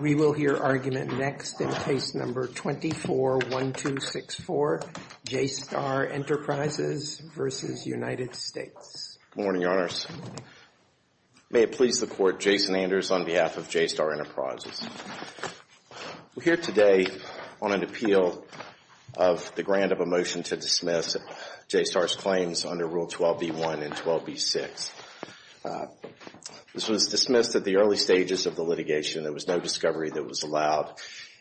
We will hear argument next in Case No. 24-1264, J. Star Enterprises v. United States. Good morning, Your Honors. May it please the Court, Jason Anders on behalf of J. Star Enterprises. We're here today on an appeal of the grant of a motion to dismiss J. Star's claims under Rule 12b-1 and 12b-6. This was dismissed at the early stages of the litigation. There was no discovery that was allowed.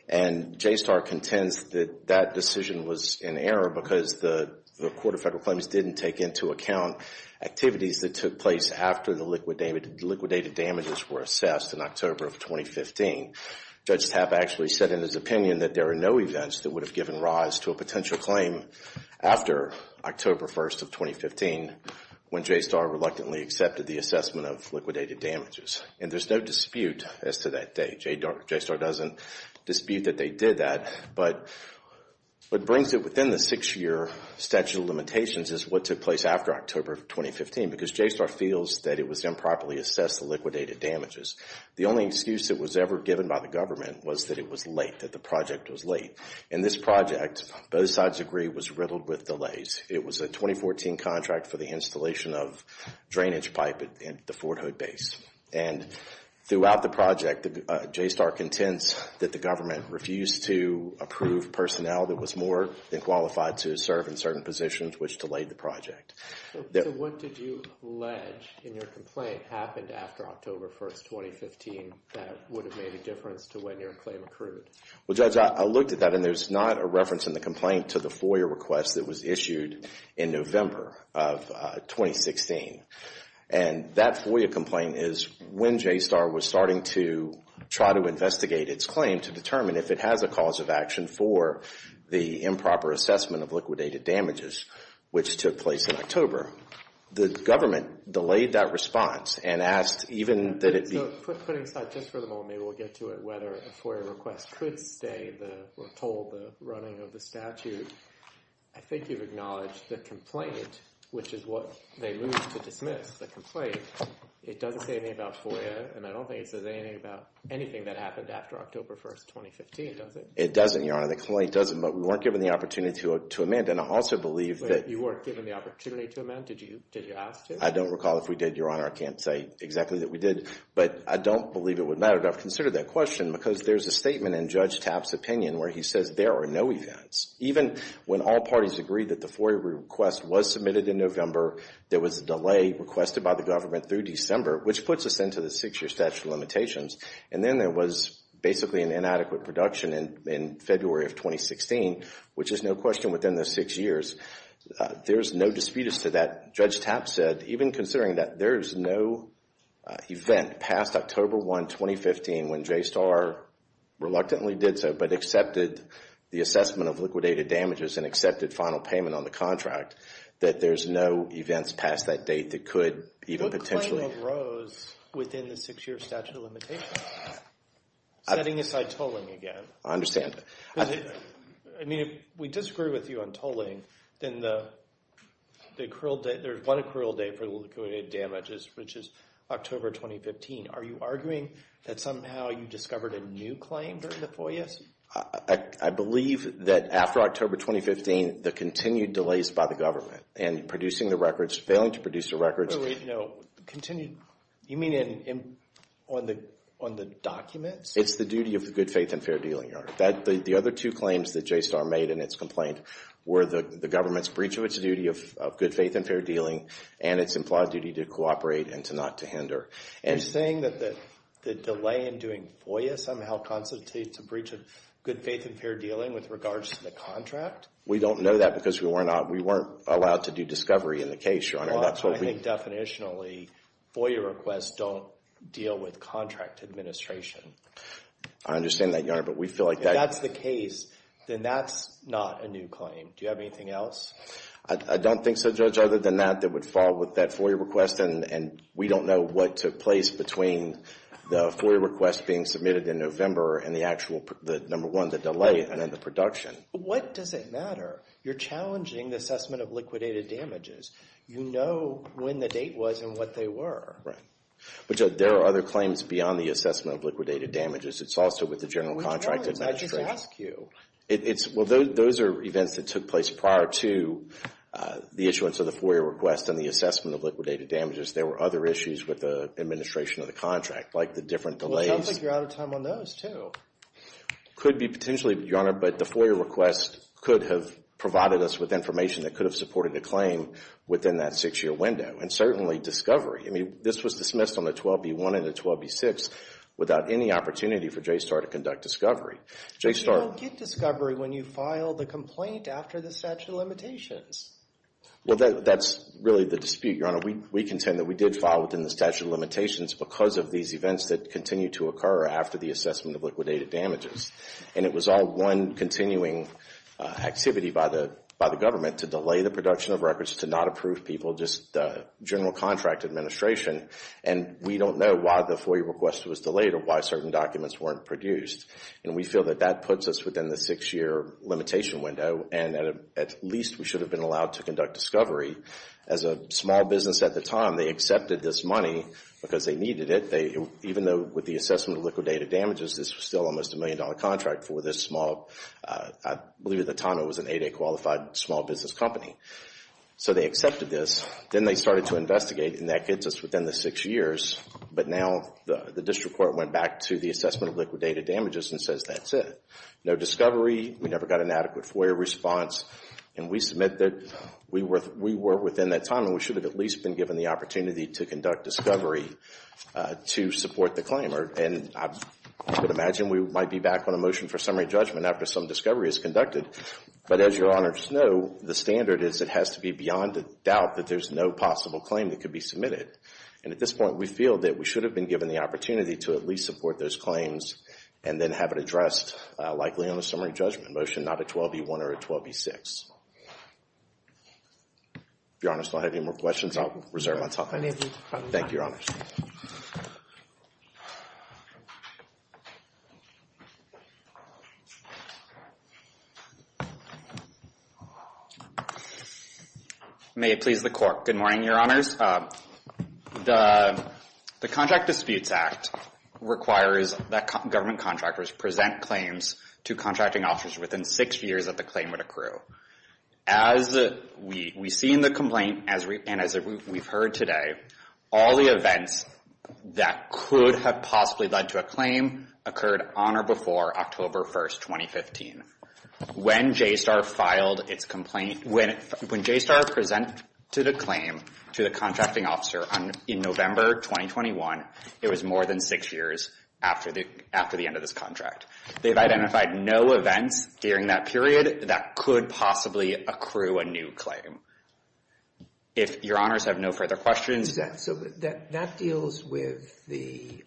And J. Star contends that that decision was in error because the Court of Federal Claims didn't take into account activities that took place after the liquidated damages were assessed in October of 2015. Judge Tapp actually said in his opinion that there are no events that would have given rise to a potential claim after October 1st of 2015 when J. Star reluctantly accepted the assessment of liquidated damages. And there's no dispute as to that date. J. Star doesn't dispute that they did that. But what brings it within the six-year statute of limitations is what took place after October of 2015 because J. Star feels that it was improperly assessed the liquidated damages. The only excuse that was ever given by the government was that it was late, that the project was late. And this project, both sides agree, was riddled with delays. It was a 2014 contract for the installation of drainage pipe at the Fort Hood base. And throughout the project, J. Star contends that the government refused to approve personnel that was more than qualified to serve in certain positions, which delayed the project. So what did you allege in your complaint happened after October 1st, 2015 that would have made a difference to when your claim accrued? Well, Judge, I looked at that and there's not a reference in the complaint to the FOIA request that was issued in November of 2016. And that FOIA complaint is when J. Star was starting to try to investigate its claim to determine if it has a cause of action for the improper assessment of liquidated damages, which took place in October, the government delayed that response and asked even that it be So putting aside just for the moment, maybe we'll get to it, whether a FOIA request could stay or hold the running of the statute, I think you've acknowledged the complaint, which is what they moved to dismiss, the complaint, it doesn't say anything about FOIA and I don't think it says anything about anything that happened after October 1st, 2015, does it? It doesn't, Your Honor. The complaint doesn't, but we weren't given the opportunity to amend. And I also believe that You weren't given the opportunity to amend? Did you ask to? I don't recall if we did, Your Honor, I can't say exactly that we did, but I don't believe it would matter. I've considered that question because there's a statement in Judge Tapp's opinion where he says there are no events. Even when all parties agreed that the FOIA request was submitted in November, there was a delay requested by the government through December, which puts us into the six-year statute of limitations. And then there was basically an inadequate production in February of 2016, which is no question within the six years. There's no disputes to that. Judge Tapp said, even considering that there's no event past October 1, 2015, when JSTAR reluctantly did so, but accepted the assessment of liquidated damages and accepted final payment on the contract, that there's no events past that date that could even potentially What claim arose within the six-year statute of limitations? Setting aside tolling again. I understand. I mean, if we disagree with you on tolling, then the accrual date, there's one accrual date for liquidated damages, which is October 2015. Are you arguing that somehow you discovered a new claim during the FOIAs? I believe that after October 2015, the continued delays by the government and producing the records, failing to produce the records. Wait, no. Continued. You mean on the documents? It's the duty of the Good Faith and Fair Dealing, Your Honor. The other two claims that JSTAR made in its complaint were the government's breach of its duty of Good Faith and Fair Dealing and its implied duty to cooperate and to not to hinder. You're saying that the delay in doing FOIA somehow constitutes a breach of Good Faith and Fair Dealing with regards to the contract? We don't know that because we weren't allowed to do discovery in the case, Your Honor. I think definitionally, FOIA requests don't deal with contract administration. I understand that, Your Honor, but we feel like that— If that's the case, then that's not a new claim. Do you have anything else? I don't think so, Judge. Other than that, that would fall with that FOIA request, and we don't know what took place between the FOIA request being submitted in November and the actual number one, the delay, and then the production. What does it matter? You're challenging the assessment of liquidated damages. You know when the date was and what they were. But, Judge, there are other claims beyond the assessment of liquidated damages. It's also with the general contract administration. Which ones? I just asked you. Well, those are events that took place prior to the issuance of the FOIA request and the assessment of liquidated damages. There were other issues with the administration of the contract, like the different delays. Well, it sounds like you're out of time on those, too. Could be potentially, Your Honor, but the FOIA request could have provided us with information that could have supported a claim within that six-year window. And certainly, discovery. I mean, this was dismissed on the 12B1 and the 12B6 without any opportunity for JSTAR to conduct discovery. But you don't get discovery when you file the complaint after the statute of limitations. Well, that's really the dispute, Your Honor. We contend that we did file within the statute of limitations because of these events that continue to occur after the assessment of liquidated damages. And it was all one continuing activity by the government to delay the production of records, to not approve people, just general contract administration. And we don't know why the FOIA request was delayed or why certain documents weren't produced. And we feel that that puts us within the six-year limitation window. And at least we should have been allowed to conduct discovery. As a small business at the time, they accepted this money because they needed it. Even though with the assessment of liquidated damages, this was still almost a million-dollar contract for this small, I believe at the time it was an 8A qualified small business company. So they accepted this. Then they started to investigate, and that gets us within the six years. But now the district court went back to the assessment of liquidated damages and says that's it. No discovery. We never got an adequate FOIA response. And we submit that we were within that time and we should have at least been given the opportunity to conduct discovery to support the claim. And I would imagine we might be back on a motion for summary judgment after some discovery is conducted. But as Your Honors know, the standard is it has to be beyond a doubt that there's no possible claim that could be submitted. And at this point, we feel that we should have been given the opportunity to at least support those claims and then have it addressed likely on a summary judgment motion, not a 12B1 or a 12B6. If Your Honors don't have any more questions, I'll reserve my time. Thank you, Your Honors. May it please the Court. Good morning, Your Honors. The Contract Disputes Act requires that government contractors present claims to contracting officers within six years that the claim would accrue. As we see in the complaint and as we've heard today, all the events that could have possibly led to a claim occurred on or before October 1, 2015. When JSTAR filed its complaint, when JSTAR presented a claim to the contracting officer in November 2021, it was more than six years after the end of this contract. They've identified no events during that period that could possibly accrue a new claim. If Your Honors have no further questions. So that deals with the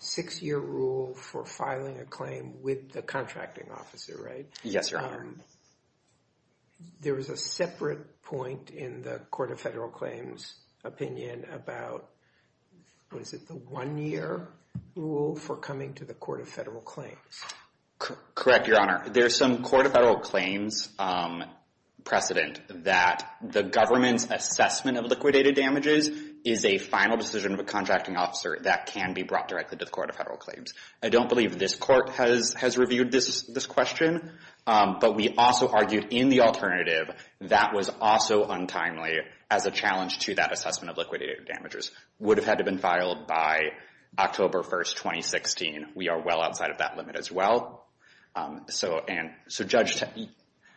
six-year rule for filing a claim with the contracting officer, right? Yes, Your Honor. There was a separate point in the Court of Federal Claims opinion about, what is it, the one-year rule for coming to the Court of Federal Claims. Correct, Your Honor. There's some Court of Federal Claims precedent that the government's assessment of liquidated damages is a final decision of a contracting officer that can be brought directly to the Court of Federal Claims. I don't believe this Court has reviewed this question, but we also argued in the alternative, that was also untimely as a challenge to that assessment of liquidated damages. Would have had to been filed by October 1, 2016. We are well outside of that limit as well. So Judge,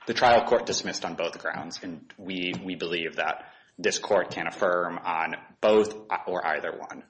the trial court dismissed on both grounds, and we believe that this Court can affirm on both or either one.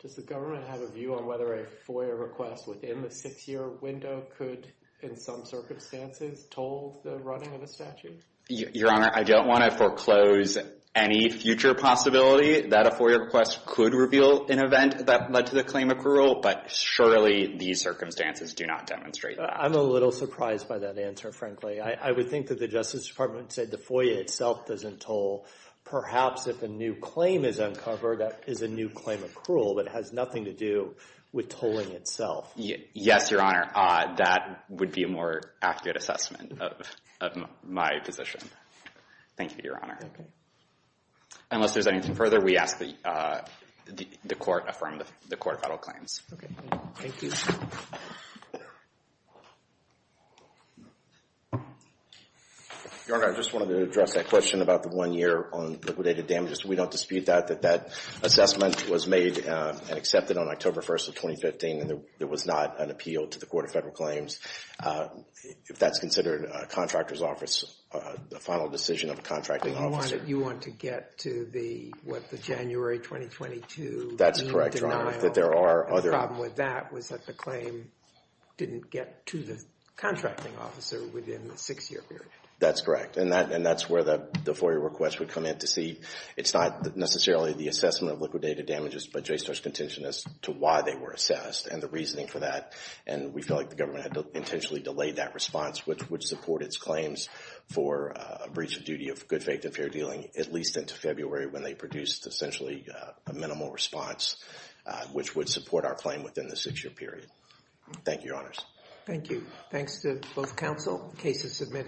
Does the government have a view on whether a FOIA request within the six-year window could, in some circumstances, toll the running of a statute? Your Honor, I don't want to foreclose any future possibility that a FOIA request could reveal an event that led to the claim accrual, but surely these circumstances do not demonstrate that. I'm a little surprised by that answer, frankly. I would think that the Justice Department said the FOIA itself doesn't toll. Perhaps if a new claim is uncovered, that is a new claim accrual, but it has nothing to do with tolling itself. Yes, Your Honor. That would be a more accurate assessment of my position. Thank you, Your Honor. Unless there's anything further, we ask that the Court affirm the Court of Federal Claims. Thank you. Your Honor, I just wanted to address that question about the one year on liquidated damages. We don't dispute that, that that assessment was made and accepted on October 1st of 2015, and there was not an appeal to the Court of Federal Claims. If that's considered a contractor's office, the final decision of a contracting officer. You want to get to the, what, the January 2022 lien denial? That's correct, Your Honor. The problem with that was that the claim didn't get to the contracting officer within the six-year period. That's correct, and that's where the FOIA request would come in to see. It's not necessarily the assessment of liquidated damages, but JSTOR's contention as to why they were assessed and the reasoning for that, and we feel like the government had to intentionally delay that response, which would support its claims for a breach of duty of good faith and fair dealing, at least into February when they produced essentially a minimal response, which would support our claim within the six-year period. Thank you, Your Honors. Thank you. Thanks to both counsel. Case is submitted.